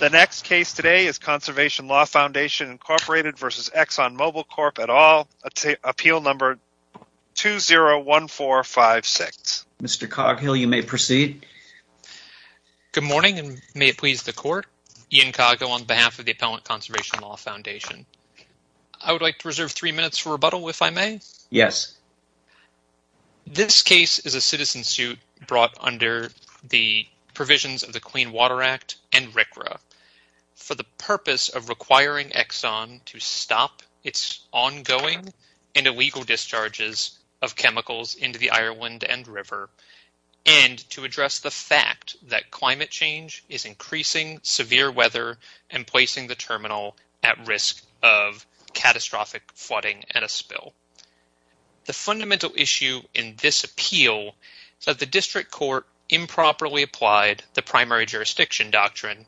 The next case today is Conservation Law Foundation Inc. v. ExxonMobil Corp. et al. Appeal No. 201456 Mr. Coghill, you may proceed. Good morning, and may it please the Court. Ian Coghill on behalf of the Appellant Conservation Law Foundation. I would like to reserve three minutes for rebuttal, if I may? Yes. This case is a citizen suit brought under the provisions of the Clean Water Act and RCRA for the purpose of requiring Exxon to stop its ongoing and illegal discharges of chemicals into the Ireland End River and to address the fact that climate change is increasing severe weather and placing the terminal at risk of catastrophic flooding and a spill. The fundamental issue in this appeal is that the District Court improperly applied the Primary Jurisdiction Doctrine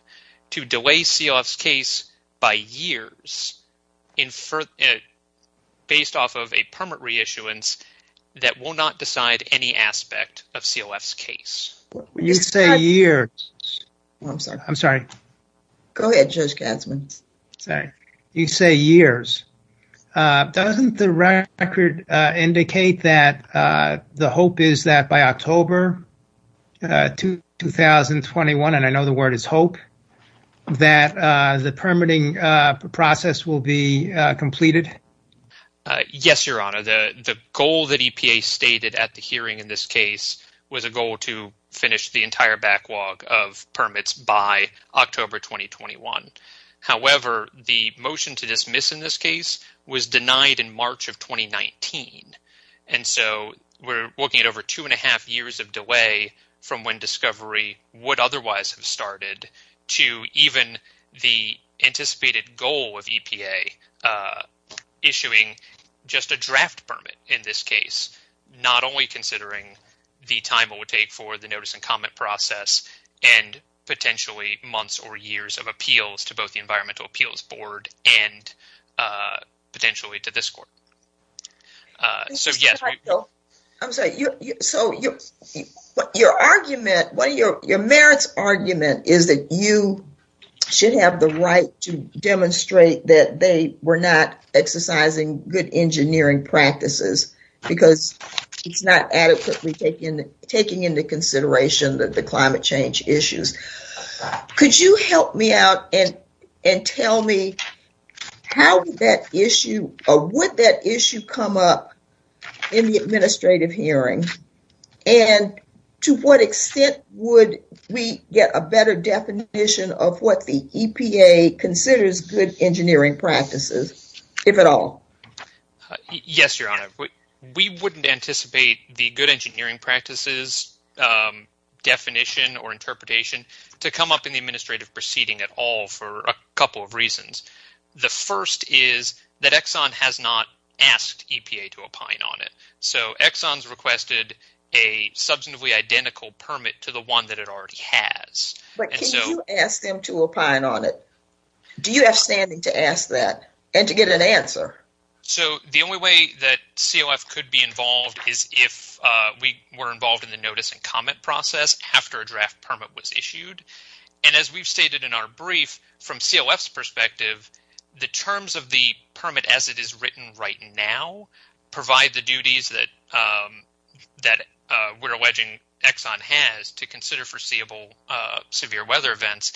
to delay CLF's case by years based off of a permit reissuance that will not decide any aspect of CLF's case. You say years. I'm sorry. Go ahead, Judge Gatzman. You say years. Doesn't the record indicate that the hope is that by October 2021, and I know the word is hope, that the permitting process will be completed? Yes, Your Honor. The goal that EPA stated at the hearing in this case was a goal to finish the entire backlog of permits by October 2021. However, the motion to dismiss in this case was denied in March of 2019. And so we're looking at over two and a half years of delay from when discovery would otherwise have started to even the anticipated goal of EPA issuing just a draft permit in this case, not only considering the time it would take for the notice and comment process and potentially months or years of appeals to both the Environmental Appeals Board and potentially to this court. I'm sorry. So your argument, your merits argument is that you should have the right to demonstrate that they were not exercising good engineering practices because it's not adequately taking into consideration that the climate change issues. Could you help me out and tell me how that issue or what that issue come up in the administrative hearing? And to what extent would we get a better definition of what the EPA considers good engineering practices, if at all? Yes, Your Honor, we wouldn't anticipate the good engineering practices definition or interpretation to come up in the administrative proceeding at all for a couple of reasons. The first is that Exxon has not asked EPA to opine on it. So Exxon's requested a substantively identical permit to the one that it already has. But can you ask them to opine on it? Do you have standing to ask that and to get an answer? So the only way that COF could be involved is if we were involved in the notice and comment process after a draft permit was issued. And as we've stated in our brief, from COF's perspective, the terms of the permit as it is written right now provide the duties that we're alleging Exxon has to consider foreseeable severe weather events.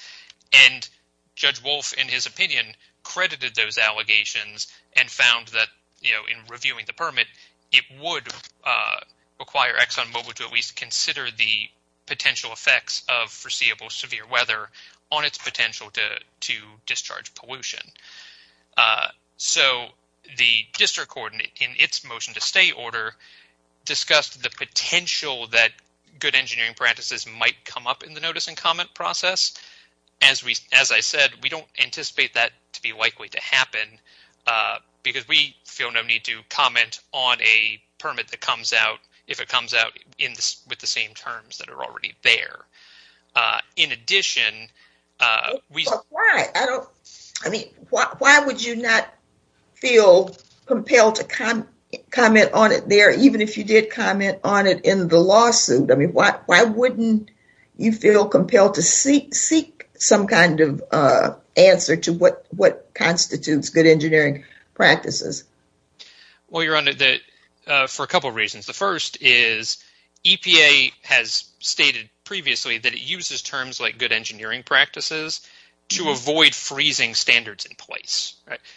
And Judge Wolf, in his opinion, credited those allegations and found that, you know, in reviewing the permit, it would require Exxon Mobil to at least consider the potential effects of foreseeable severe weather on its potential to discharge pollution. So the district court, in its motion to stay order, discussed the potential that good engineering practices might come up in the notice and comment process. As I said, we don't anticipate that to be likely to happen because we feel no need to comment on a permit that comes out if it comes out with the same terms that are already there. In addition... But why? I mean, why would you not feel compelled to comment on it there, even if you did comment on it in the lawsuit? I mean, why wouldn't you feel compelled to seek some kind of answer to what constitutes good engineering practices? Well, Your Honor, for a couple of reasons. The first is EPA has stated previously that it uses terms like good engineering practices to avoid freezing standards in place.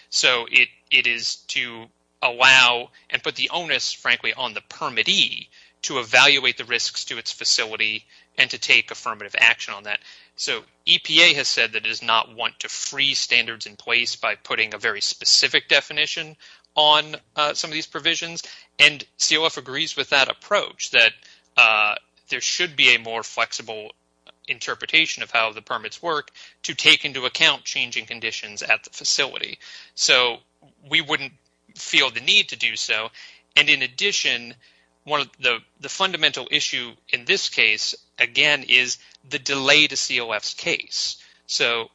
So it is to allow and put the onus, frankly, on the permittee to evaluate the risks to its facility and to take affirmative action on that. So EPA has said that it does not want to free standards in place by putting a very specific definition on some of these provisions. And COF agrees with that approach, that there should be a more flexible interpretation of how the permits work to take into account changing conditions at the facility. So we wouldn't feel the need to do so. And in addition, the fundamental issue in this case, again, is the delay to COF's case. So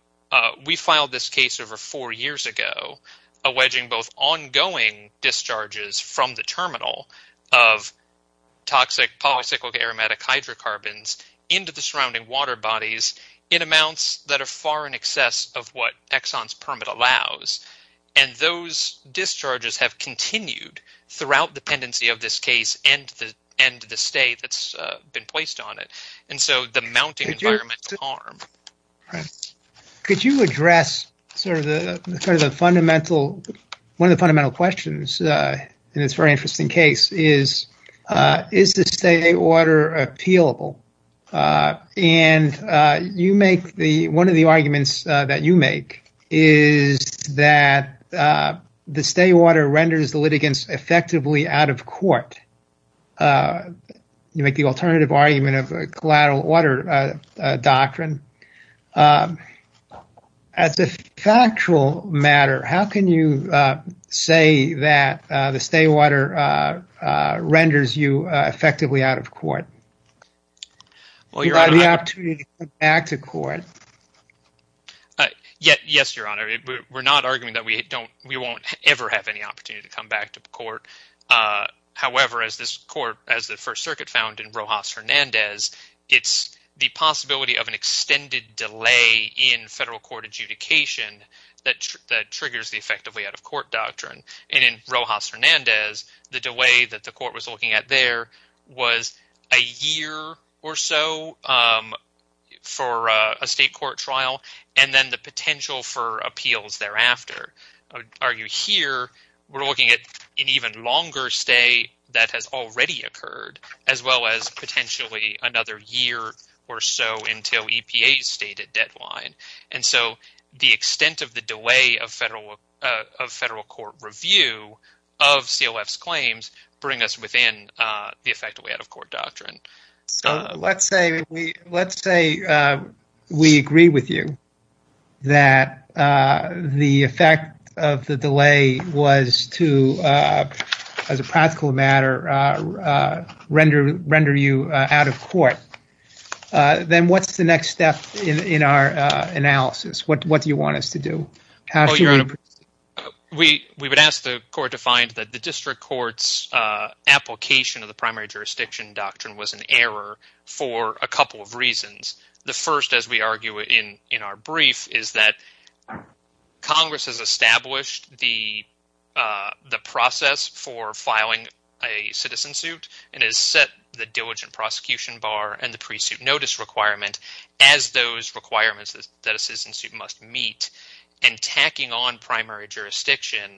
we filed this case over four years ago, alleging both ongoing discharges from the terminal of toxic polycyclic aromatic hydrocarbons into the surrounding water bodies in amounts that are far in excess of what Exxon's permit allows. And those discharges have continued throughout the pendency of this case and the stay that's been placed on it. And so the mounting environmental harm. Could you address sort of the fundamental, one of the fundamental questions in this very interesting case is, is the state water appealable? And you make the one of the arguments that you make is that the state water renders the litigants effectively out of court. You make the alternative argument of a collateral water doctrine. As a factual matter, how can you say that the state water renders you effectively out of court? You have the opportunity to come back to court. Yes, Your Honor. We're not arguing that we don't, we won't ever have any opportunity to come back to court. However, as this court, as the First Circuit found in Rojas Hernandez, it's the possibility of an extended delay in federal court adjudication that triggers the effectively out of court doctrine. And in Rojas Hernandez, the delay that the court was looking at there was a year or so for a state court trial. And then the potential for appeals thereafter. I would argue here we're looking at an even longer stay that has already occurred, as well as potentially another year or so until EPA's stated deadline. And so the extent of the delay of federal of federal court review of COF's claims bring us within the effectively out of court doctrine. Let's say we agree with you that the effect of the delay was to, as a practical matter, render you out of court. Then what's the next step in our analysis? What do you want us to do? We would ask the court to find that the district court's application of the primary jurisdiction doctrine was an error for a couple of reasons. The first, as we argue in our brief, is that Congress has established the process for filing a citizen suit. It has set the diligent prosecution bar and the pre-suit notice requirement as those requirements that a citizen suit must meet. And tacking on primary jurisdiction,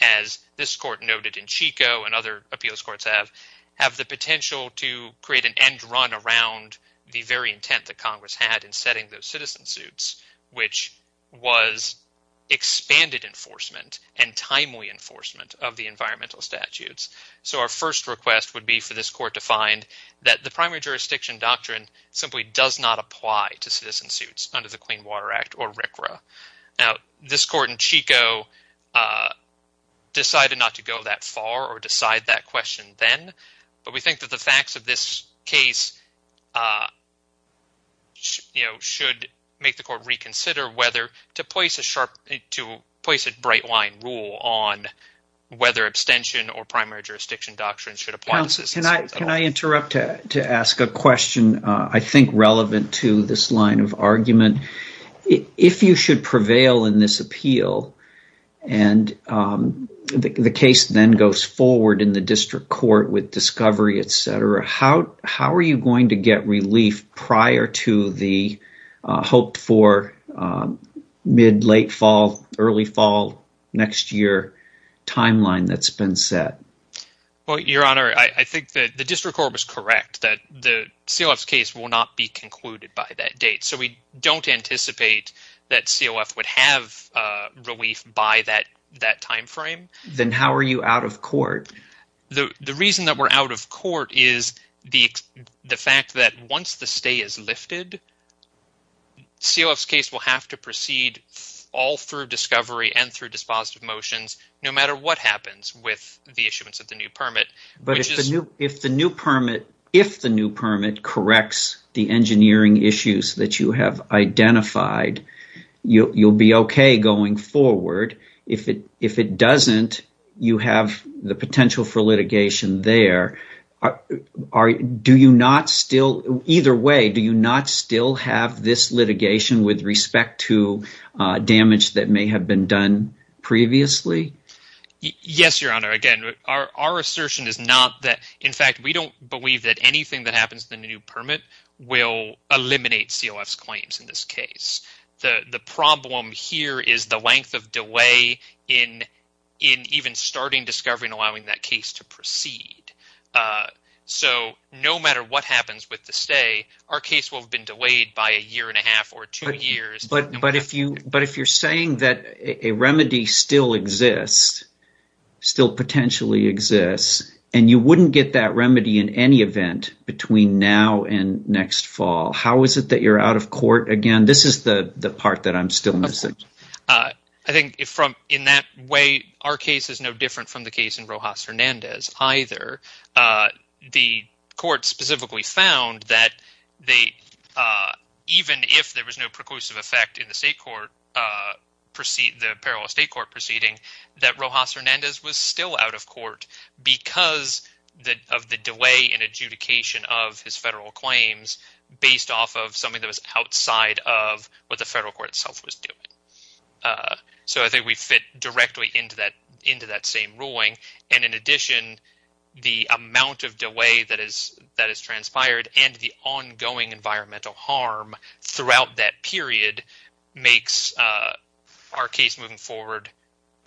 as this court noted in Chico and other appeals courts have, have the potential to create an end run around the very intent that Congress had in setting those citizen suits, which was expanded enforcement and timely enforcement of the environmental statutes. So our first request would be for this court to find that the primary jurisdiction doctrine simply does not apply to citizen suits under the Clean Water Act or RCRA. Now, this court in Chico decided not to go that far or decide that question then. But we think that the facts of this case should make the court reconsider whether to place a bright line rule on whether abstention or primary jurisdiction doctrine should apply. Can I interrupt to ask a question I think relevant to this line of argument? If you should prevail in this appeal and the case then goes forward in the district court with discovery, etc., how are you going to get relief prior to the hoped for mid-late fall, early fall next year timeline that's been set? Well, Your Honor, I think that the district court was correct that the COF's case will not be concluded by that date. So we don't anticipate that COF would have relief by that time frame. Then how are you out of court? The reason that we're out of court is the fact that once the stay is lifted, COF's case will have to proceed all through discovery and through dispositive motions no matter what happens with the issuance of the new permit. But if the new permit corrects the engineering issues that you have identified, you'll be OK going forward. If it doesn't, you have the potential for litigation there. Either way, do you not still have this litigation with respect to damage that may have been done previously? Yes, Your Honor. Again, our assertion is not that – in fact, we don't believe that anything that happens in the new permit will eliminate COF's claims in this case. The problem here is the length of delay in even starting discovery and allowing that case to proceed. So no matter what happens with the stay, our case will have been delayed by a year and a half or two years. But if you're saying that a remedy still exists, still potentially exists, and you wouldn't get that remedy in any event between now and next fall, how is it that you're out of court again? This is the part that I'm still missing. I think in that way, our case is no different from the case in Rojas Hernandez either. The court specifically found that even if there was no preclusive effect in the state court – the parallel state court proceeding, that Rojas Hernandez was still out of court because of the delay in adjudication of his federal claims based off of something that was outside of what the federal court itself was doing. So I think we fit directly into that same ruling, and in addition, the amount of delay that has transpired and the ongoing environmental harm throughout that period makes our case moving forward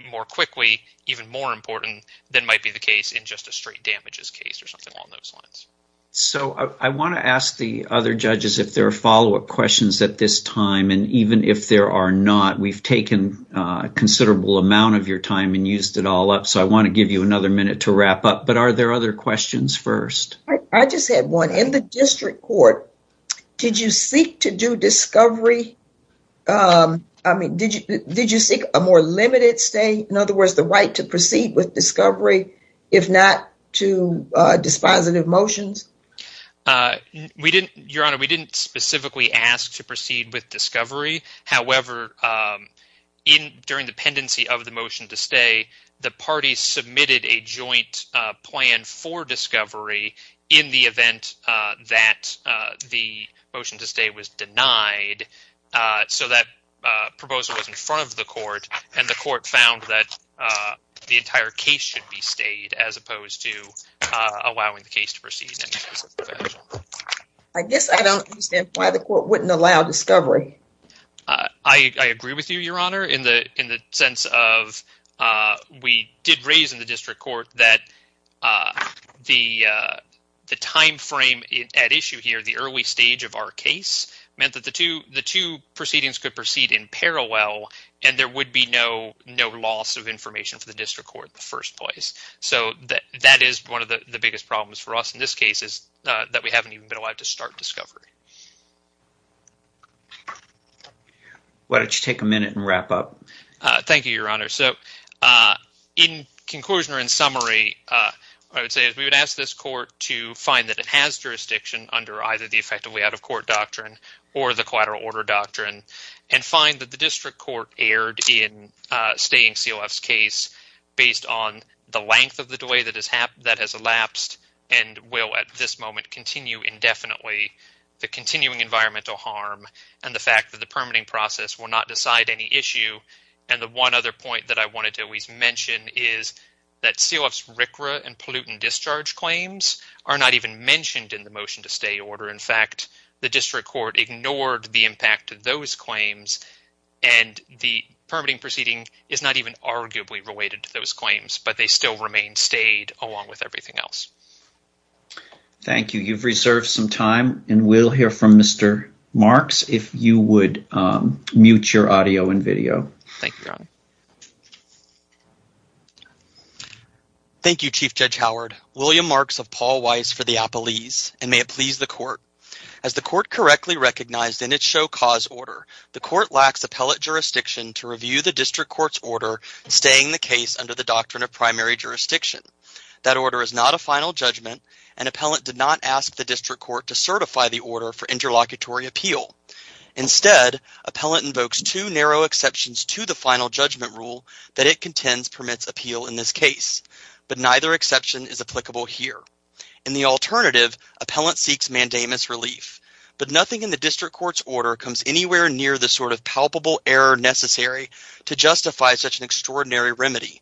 more quickly, even more important than might be the case in just a straight damages case or something along those lines. So I want to ask the other judges if there are follow-up questions at this time, and even if there are not, we've taken a considerable amount of your time and used it all up, so I want to give you another minute to wrap up. But are there other questions first? I just had one. In the district court, did you seek to do discovery – I mean, did you seek a more limited stay, in other words, the right to proceed with discovery if not to dispositive motions? We didn't – Your Honor, we didn't specifically ask to proceed with discovery. However, during the pendency of the motion to stay, the parties submitted a joint plan for discovery in the event that the motion to stay was denied. So that proposal was in front of the court, and the court found that the entire case should be stayed as opposed to allowing the case to proceed. I guess I don't understand why the court wouldn't allow discovery. I agree with you, Your Honor, in the sense of we did raise in the district court that the timeframe at issue here, the early stage of our case, meant that the two proceedings could proceed in parallel and there would be no loss of information for the district court in the first place. So that is one of the biggest problems for us in this case is that we haven't even been allowed to start discovery. Why don't you take a minute and wrap up? Thank you, Your Honor. So in conclusion or in summary, what I would say is we would ask this court to find that it has jurisdiction under either the effectively out-of-court doctrine or the collateral order doctrine and find that the district court erred in staying COF's case based on the length of the delay that has elapsed and will at this moment continue indefinitely, the continuing environmental harm and the fact that the permitting process will not decide any issue. And the one other point that I wanted to always mention is that COF's RCRA and pollutant discharge claims are not even mentioned in the motion to stay order. In fact, the district court ignored the impact of those claims and the permitting proceeding is not even arguably related to those claims, but they still remain stayed along with everything else. Thank you. You've reserved some time and we'll hear from Mr. Marks if you would mute your audio and video. Thank you, Your Honor. Thank you, Chief Judge Howard. William Marks of Paul Weiss for the Appelese and may it please the court. As the court correctly recognized in its show cause order, the court lacks appellate jurisdiction to review the district court's order staying the case under the doctrine of primary jurisdiction. That order is not a final judgment and appellant did not ask the district court to certify the order for interlocutory appeal. Instead, appellant invokes two narrow exceptions to the final judgment rule that it contends permits appeal in this case, but neither exception is applicable here. In the alternative, appellant seeks mandamus relief, but nothing in the district court's order comes anywhere near the sort of palpable error necessary to justify such an extraordinary remedy.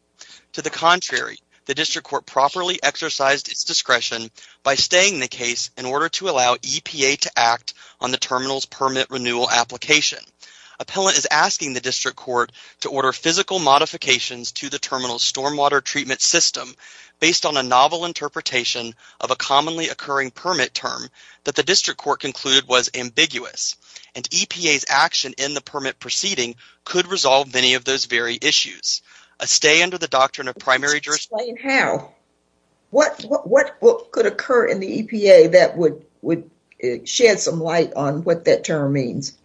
To the contrary, the district court properly exercised its discretion by staying the case in order to allow EPA to act on the terminal's permit renewal application. Appellant is asking the district court to order physical modifications to the terminal's stormwater treatment system based on a novel interpretation of a commonly occurring permit term that the district court concluded was ambiguous. And EPA's action in the permit proceeding could resolve many of those very issues. A stay under the doctrine of primary jurisdiction... Explain how. What could occur in the EPA that would shed some light on what that term means?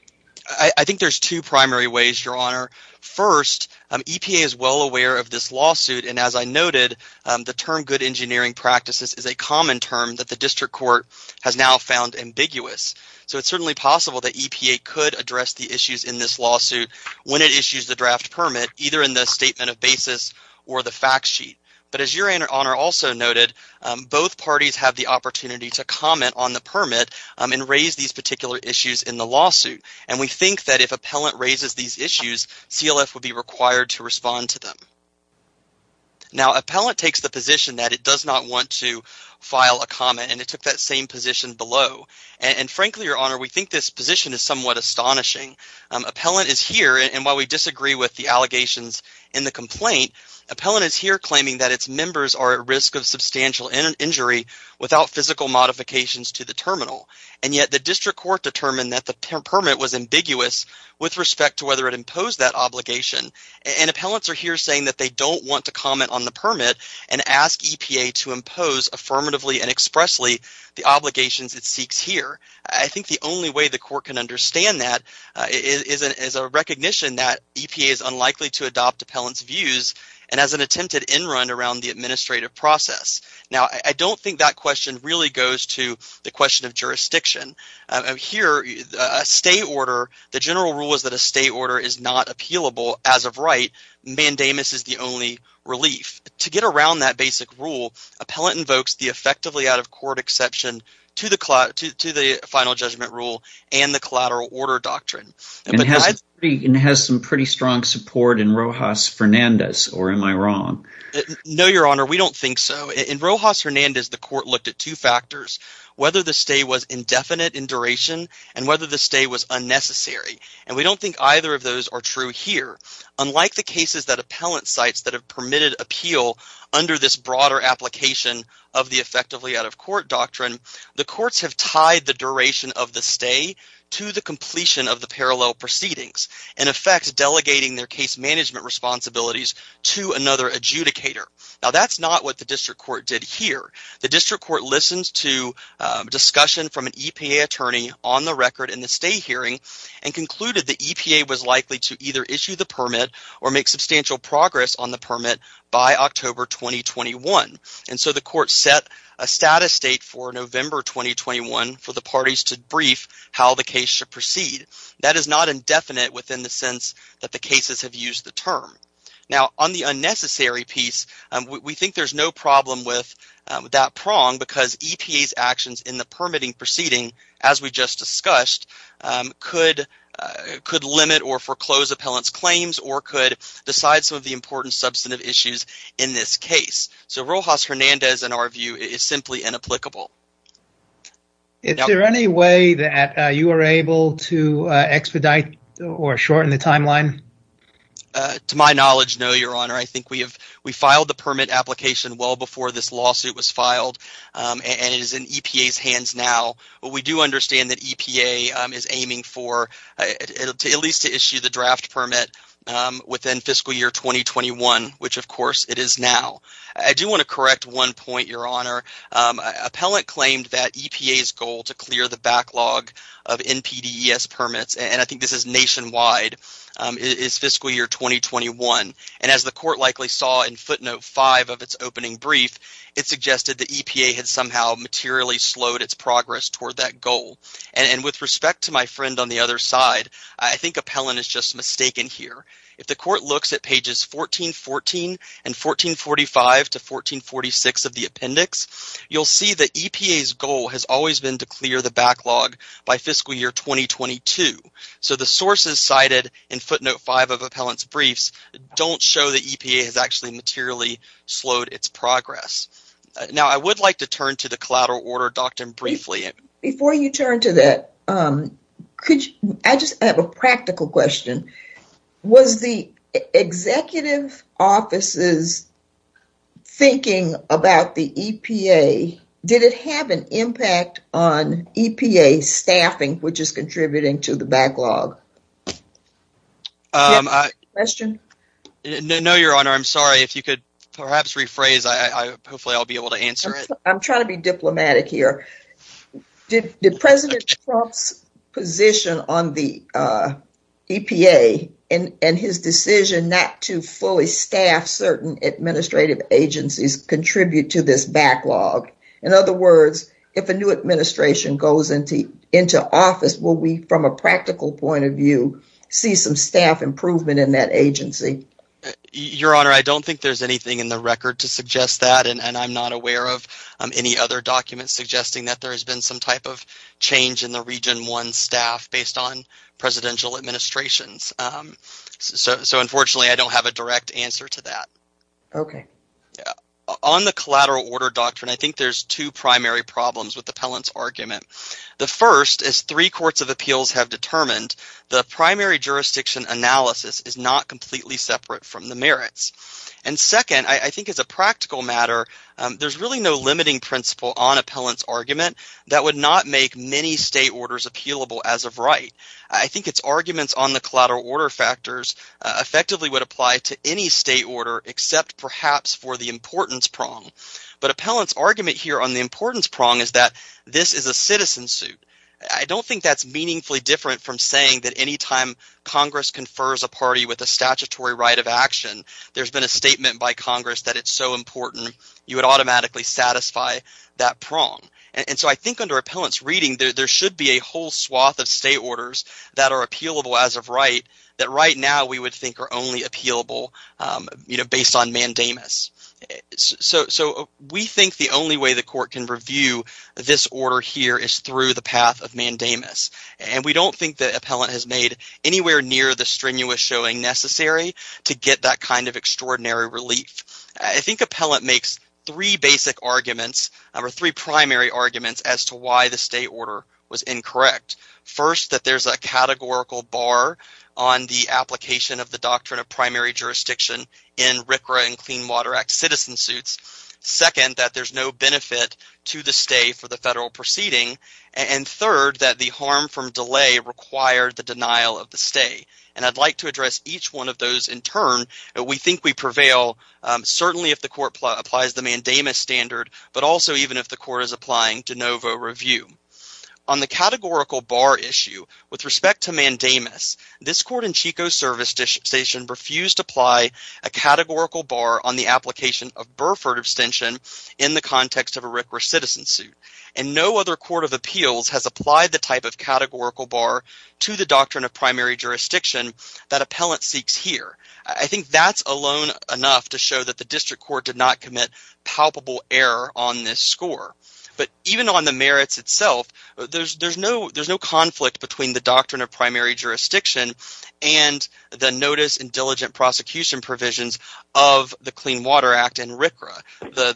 I think there's two primary ways, Your Honor. First, EPA is well aware of this lawsuit, and as I noted, the term good engineering practices is a common term that the district court has now found ambiguous. So it's certainly possible that EPA could address the issues in this lawsuit when it issues the draft permit, either in the statement of basis or the fact sheet. But as Your Honor also noted, both parties have the opportunity to comment on the permit and raise these particular issues in the lawsuit. And we think that if appellant raises these issues, CLF would be required to respond to them. Now, appellant takes the position that it does not want to file a comment, and it took that same position below. And frankly, Your Honor, we think this position is somewhat astonishing. Appellant is here, and while we disagree with the allegations in the complaint, appellant is here claiming that its members are at risk of substantial injury without physical modifications to the terminal. And yet the district court determined that the permit was ambiguous with respect to whether it imposed that obligation. And appellants are here saying that they don't want to comment on the permit and ask EPA to impose affirmatively and expressly the obligations it seeks here. I think the only way the court can understand that is a recognition that EPA is unlikely to adopt appellant's views and has an attempted in run around the administrative process. Now, I don't think that question really goes to the question of jurisdiction. Here, a stay order – the general rule is that a stay order is not appealable as of right. Mandamus is the only relief. To get around that basic rule, appellant invokes the effectively out-of-court exception to the final judgment rule and the collateral order doctrine. And has some pretty strong support in Rojas Fernandez, or am I wrong? No, Your Honor. We don't think so. In Rojas Fernandez, the court looked at two factors, whether the stay was indefinite in duration and whether the stay was unnecessary. And we don't think either of those are true here. Unlike the cases that appellant cites that have permitted appeal under this broader application of the effectively out-of-court doctrine, the courts have tied the duration of the stay to the completion of the parallel proceedings. In effect, delegating their case management responsibilities to another adjudicator. Now, that's not what the district court did here. The district court listened to discussion from an EPA attorney on the record in the stay hearing and concluded the EPA was likely to either issue the permit or make substantial progress on the permit by October 2021. And so the court set a status date for November 2021 for the parties to brief how the case should proceed. That is not indefinite within the sense that the cases have used the term. Now, on the unnecessary piece, we think there's no problem with that prong because EPA's actions in the permitting proceeding, as we just discussed, could limit or foreclose appellant's claims or could decide some of the important substantive issues in this case. So Rojas Hernandez, in our view, is simply inapplicable. Is there any way that you are able to expedite or shorten the timeline? To my knowledge, no, Your Honor. I think we filed the permit application well before this lawsuit was filed, and it is in EPA's hands now. But we do understand that EPA is aiming for at least to issue the draft permit within fiscal year 2021, which of course it is now. I do want to correct one point, Your Honor. Appellant claimed that EPA's goal to clear the backlog of NPDES permits, and I think this is nationwide, is fiscal year 2021, and as the court likely saw in footnote 5 of its opening brief, it suggested that EPA had somehow materially slowed its progress toward that goal. And with respect to my friend on the other side, I think appellant is just mistaken here. If the court looks at pages 1414 and 1445 to 1446 of the appendix, you'll see that EPA's goal has always been to clear the backlog by fiscal year 2022. So the sources cited in footnote 5 of appellant's briefs don't show that EPA has actually materially slowed its progress. Now I would like to turn to the collateral order doctrine briefly. Before you turn to that, I just have a practical question. Was the executive offices thinking about the EPA? Did it have an impact on EPA staffing, which is contributing to the backlog? Question? No, Your Honor, I'm sorry. If you could perhaps rephrase, hopefully I'll be able to answer it. I'm trying to be diplomatic here. Did President Trump's position on the EPA and his decision not to fully staff certain administrative agencies contribute to this backlog? In other words, if a new administration goes into office, will we, from a practical point of view, see some staff improvement in that agency? Your Honor, I don't think there's anything in the record to suggest that. And I'm not aware of any other documents suggesting that there has been some type of change in the Region 1 staff based on presidential administrations. So unfortunately, I don't have a direct answer to that. Okay. On the collateral order doctrine, I think there's two primary problems with the appellant's argument. The first is three courts of appeals have determined the primary jurisdiction analysis is not completely separate from the merits. And second, I think as a practical matter, there's really no limiting principle on appellant's argument that would not make many state orders appealable as of right. I think its arguments on the collateral order factors effectively would apply to any state order except perhaps for the importance prong. But appellant's argument here on the importance prong is that this is a citizen suit. I don't think that's meaningfully different from saying that any time Congress confers a party with a statutory right of action, there's been a statement by Congress that it's so important, you would automatically satisfy that prong. And so I think under appellant's reading, there should be a whole swath of state orders that are appealable as of right, that right now we would think are only appealable based on mandamus. So we think the only way the court can review this order here is through the path of mandamus. And we don't think that appellant has made anywhere near the strenuous showing necessary to get that kind of extraordinary relief. I think appellant makes three basic arguments or three primary arguments as to why the state order was incorrect. First, that there's a categorical bar on the application of the doctrine of primary jurisdiction in RCRA and Clean Water Act citizen suits. Second, that there's no benefit to the state for the federal proceeding. And third, that the harm from delay required the denial of the state. And I'd like to address each one of those in turn. We think we prevail certainly if the court applies the mandamus standard, but also even if the court is applying de novo review. On the categorical bar issue, with respect to mandamus, this court in Chico Service Station refused to apply a categorical bar on the application of Burford abstention in the context of a RCRA citizen suit. And no other court of appeals has applied the type of categorical bar to the doctrine of primary jurisdiction that appellant seeks here. I think that's alone enough to show that the district court did not commit palpable error on this score. But even on the merits itself, there's no conflict between the doctrine of primary jurisdiction and the notice and diligent prosecution provisions of the Clean Water Act and RCRA.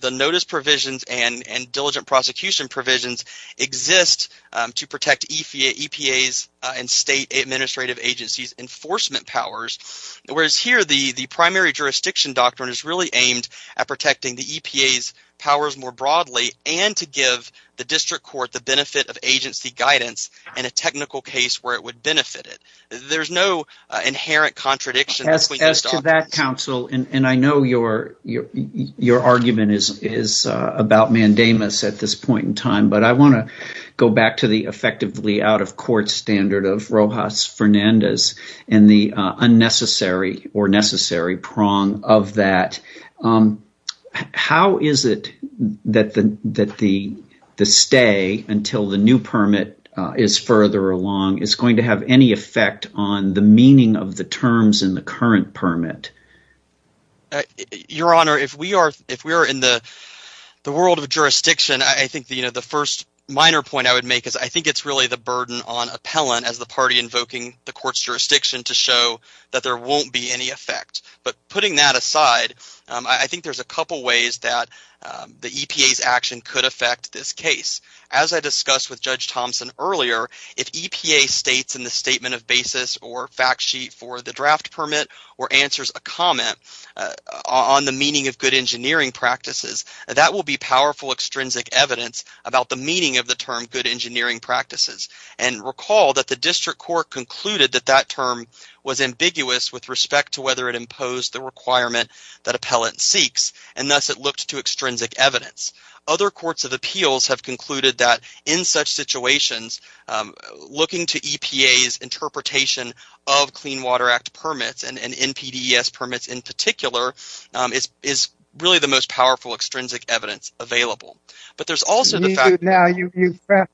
The notice provisions and diligent prosecution provisions exist to protect EPA's and state administrative agencies' enforcement powers. Whereas here, the primary jurisdiction doctrine is really aimed at protecting the EPA's powers more broadly and to give the district court the benefit of agency guidance in a technical case where it would benefit it. There's no inherent contradiction between those doctrines. Counsel, and I know your argument is about mandamus at this point in time, but I want to go back to the effectively out-of-court standard of Rojas Fernandez and the unnecessary or necessary prong of that. How is it that the stay until the new permit is further along is going to have any effect on the meaning of the terms in the current permit? Your Honor, if we are in the world of jurisdiction, I think the first minor point I would make is I think it's really the burden on appellant as the party invoking the court's jurisdiction to show that there won't be any effect. But putting that aside, I think there's a couple ways that the EPA's action could affect this case. As I discussed with Judge Thompson earlier, if EPA states in the statement of basis or fact sheet for the draft permit or answers a comment on the meaning of good engineering practices, that will be powerful extrinsic evidence about the meaning of the term good engineering practices. And recall that the district court concluded that that term was ambiguous with respect to whether it imposed the requirement that appellant seeks, and thus it looked to extrinsic evidence. Other courts of appeals have concluded that in such situations, looking to EPA's interpretation of Clean Water Act permits and NPDES permits in particular is really the most powerful extrinsic evidence available.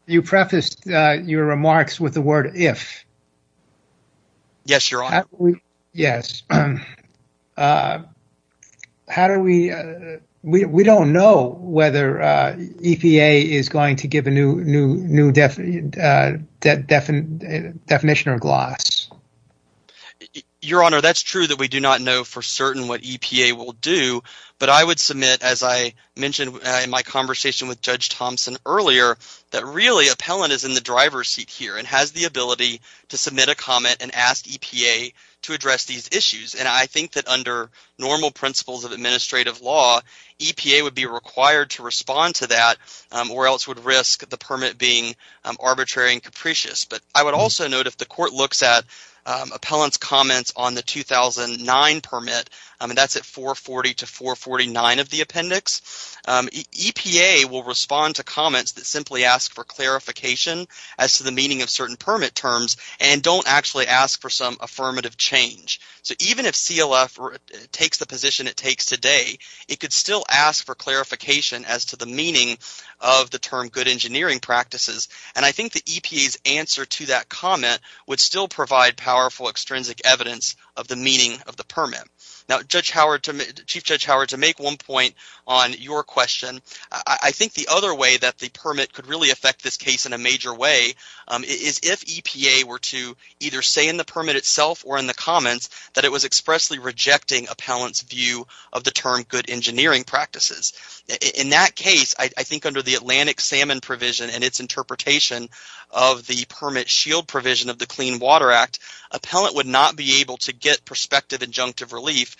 You prefaced your remarks with the word if. Yes, Your Honor. We don't know whether EPA is going to give a new definition or gloss. Your Honor, that's true that we do not know for certain what EPA will do. But I would submit, as I mentioned in my conversation with Judge Thompson earlier, that really appellant is in the driver's seat here and has the ability to submit a comment and ask EPA to address these issues. And I think that under normal principles of administrative law, EPA would be required to respond to that or else would risk the permit being arbitrary and capricious. But I would also note if the court looks at appellant's comments on the 2009 permit, and that's at 440 to 449 of the appendix, EPA will respond to comments that simply ask for clarification as to the meaning of certain permit terms and don't actually ask for some affirmative change. So even if CLF takes the position it takes today, it could still ask for clarification as to the meaning of the term good engineering practices. And I think the EPA's answer to that comment would still provide powerful extrinsic evidence of the meaning of the permit. Now, Chief Judge Howard, to make one point on your question, I think the other way that the permit could really affect this case in a major way is if EPA were to either say in the permit itself or in the comments that it was expressly rejecting appellant's view of the term good engineering practices. In that case, I think under the Atlantic Salmon provision and its interpretation of the permit shield provision of the Clean Water Act, appellant would not be able to get prospective injunctive relief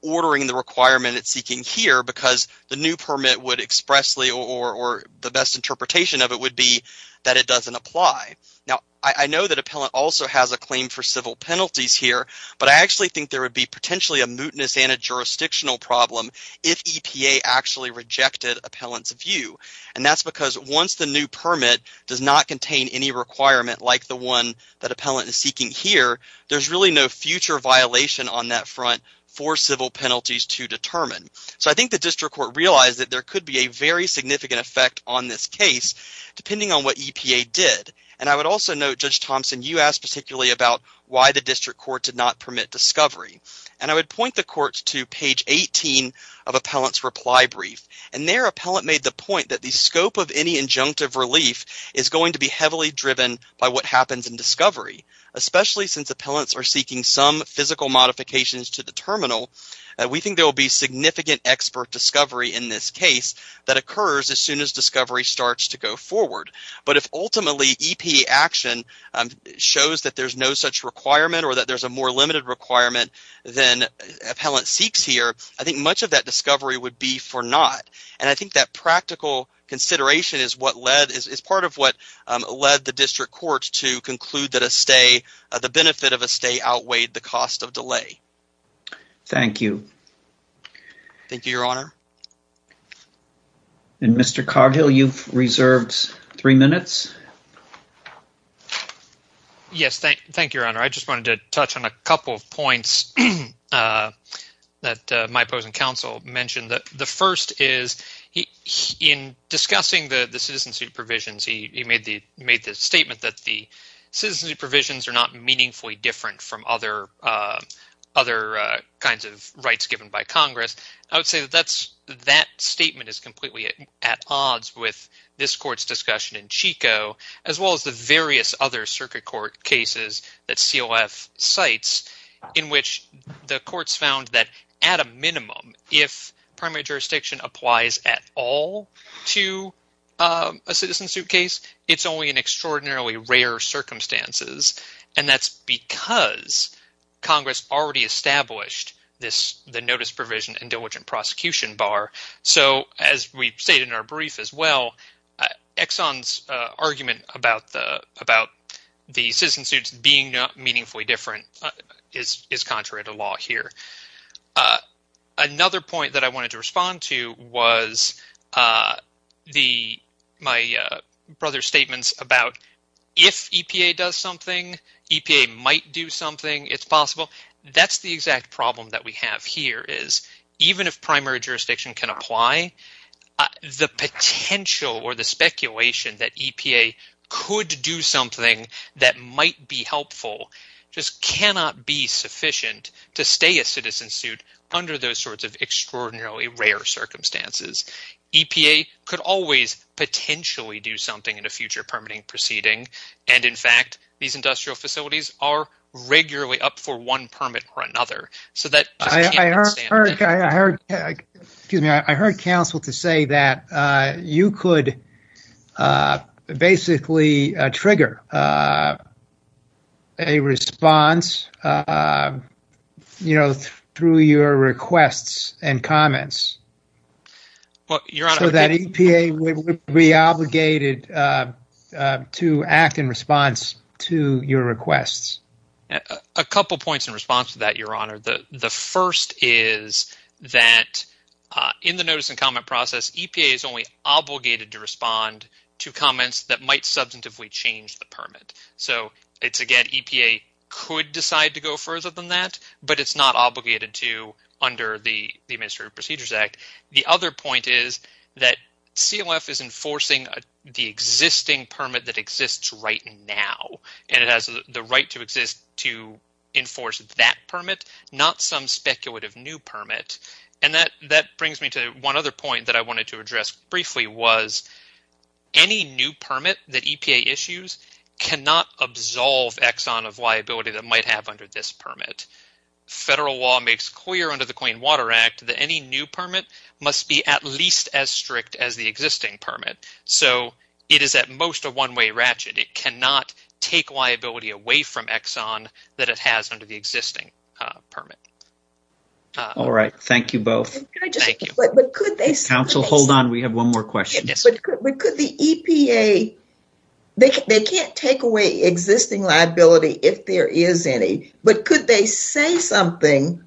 ordering the requirement it's seeking here because the new permit would expressly or the best interpretation of it would be that it doesn't apply. Now, I know that appellant also has a claim for civil penalties here, but I actually think there would be potentially a mootness and a jurisdictional problem if EPA actually rejected appellant's view. And that's because once the new permit does not contain any requirement like the one that appellant is seeking here, there's really no future violation on that front for civil penalties to determine. So I think the district court realized that there could be a very significant effect on this case depending on what EPA did. And I would also note, Judge Thompson, you asked particularly about why the district court did not permit discovery. And I would point the court to page 18 of appellant's reply brief. And there appellant made the point that the scope of any injunctive relief is going to be heavily driven by what happens in discovery, especially since appellants are seeking some physical modifications to the terminal. We think there will be significant expert discovery in this case that occurs as soon as discovery starts to go forward. But if ultimately EPA action shows that there's no such requirement or that there's a more limited requirement than appellant seeks here, I think much of that discovery would be for naught. And I think that practical consideration is part of what led the district court to conclude that the benefit of a stay outweighed the cost of delay. Thank you. Thank you, Your Honor. And Mr. Cargill, you've reserved three minutes. Yes, thank you, Your Honor. I just wanted to touch on a couple of points that my opposing counsel mentioned. The first is in discussing the citizenship provisions, he made the statement that the citizenship provisions are not meaningfully different from other kinds of rights given by Congress. I would say that that statement is completely at odds with this court's discussion in Chico, as well as the various other circuit court cases that CLF cites, in which the courts found that at a minimum, if primary jurisdiction applies at all to a citizen suit case, it's only in extraordinarily rare circumstances. And that's because Congress already established the notice provision and diligent prosecution bar. So as we've stated in our brief as well, Exxon's argument about the citizen suits being meaningfully different is contrary to law here. Another point that I wanted to respond to was my brother's statements about if EPA does something, EPA might do something, it's possible. That's the exact problem that we have here is even if primary jurisdiction can apply, the potential or the speculation that EPA could do something that might be helpful just cannot be sufficient to stay a citizen suit under those sorts of extraordinarily rare circumstances. EPA could always potentially do something in a future permitting proceeding. And in fact, these industrial facilities are regularly up for one permit or another. I heard counsel to say that you could basically trigger a response through your requests and comments so that EPA would be obligated to act in response to your requests. A couple points in response to that, Your Honor. The first is that in the notice and comment process, EPA is only obligated to respond to comments that might substantively change the permit. So it's, again, EPA could decide to go further than that, but it's not obligated to under the Administrative Procedures Act. The other point is that CLF is enforcing the existing permit that exists right now, and it has the right to exist to enforce that permit, not some speculative new permit. And that brings me to one other point that I wanted to address briefly was any new permit that EPA issues cannot absolve Exxon of liability that might have under this permit. Federal law makes clear under the Clean Water Act that any new permit must be at least as strict as the existing permit. So it is at most a one-way ratchet. It cannot take liability away from Exxon that it has under the existing permit. All right. Thank you both. Thank you. Counsel, hold on. We have one more question. But could the EPA – they can't take away existing liability if there is any, but could they say something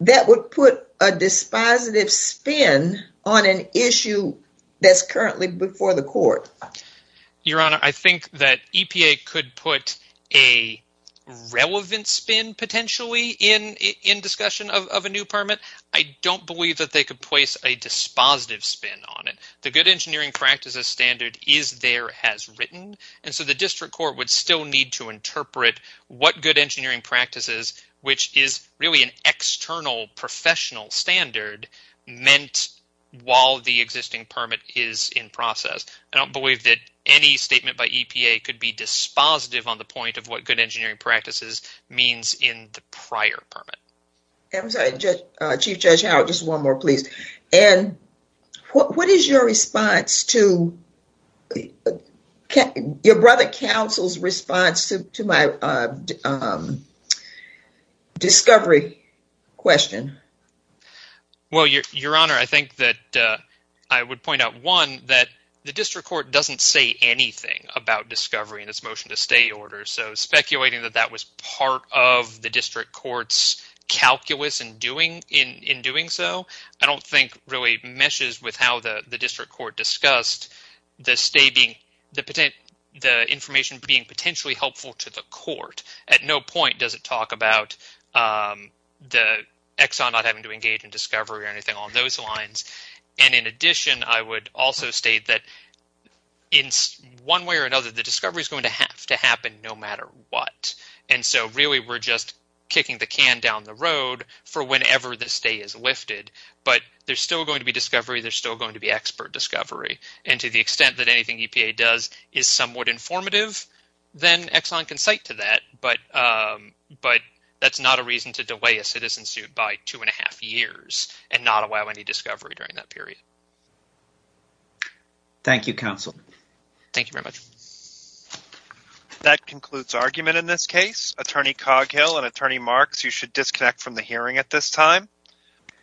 that would put a dispositive spin on an issue that's currently before the court? Your Honor, I think that EPA could put a relevant spin potentially in discussion of a new permit. I don't believe that they could place a dispositive spin on it. The good engineering practices standard is there, has written, and so the district court would still need to interpret what good engineering practices, which is really an external professional standard, meant while the existing permit is in process. I don't believe that any statement by EPA could be dispositive on the point of what good engineering practices means in the prior permit. I'm sorry. Chief Judge Howard, just one more, please. What is your response to – your brother counsel's response to my discovery question? Well, Your Honor, I think that I would point out, one, that the district court doesn't say anything about discovery in its motion to stay order. So speculating that that was part of the district court's calculus in doing so I don't think really meshes with how the district court discussed the stay being – the information being potentially helpful to the court. At no point does it talk about the Exxon not having to engage in discovery or anything along those lines. And in addition, I would also state that in one way or another, the discovery is going to have to happen no matter what. And so really we're just kicking the can down the road for whenever the stay is lifted. But there's still going to be discovery. There's still going to be expert discovery. And to the extent that anything EPA does is somewhat informative, then Exxon can cite to that. But that's not a reason to delay a citizen suit by two and a half years and not allow any discovery during that period. Thank you, counsel. Thank you very much. That concludes argument in this case. Attorney Coghill and Attorney Marks, you should disconnect from the hearing at this time.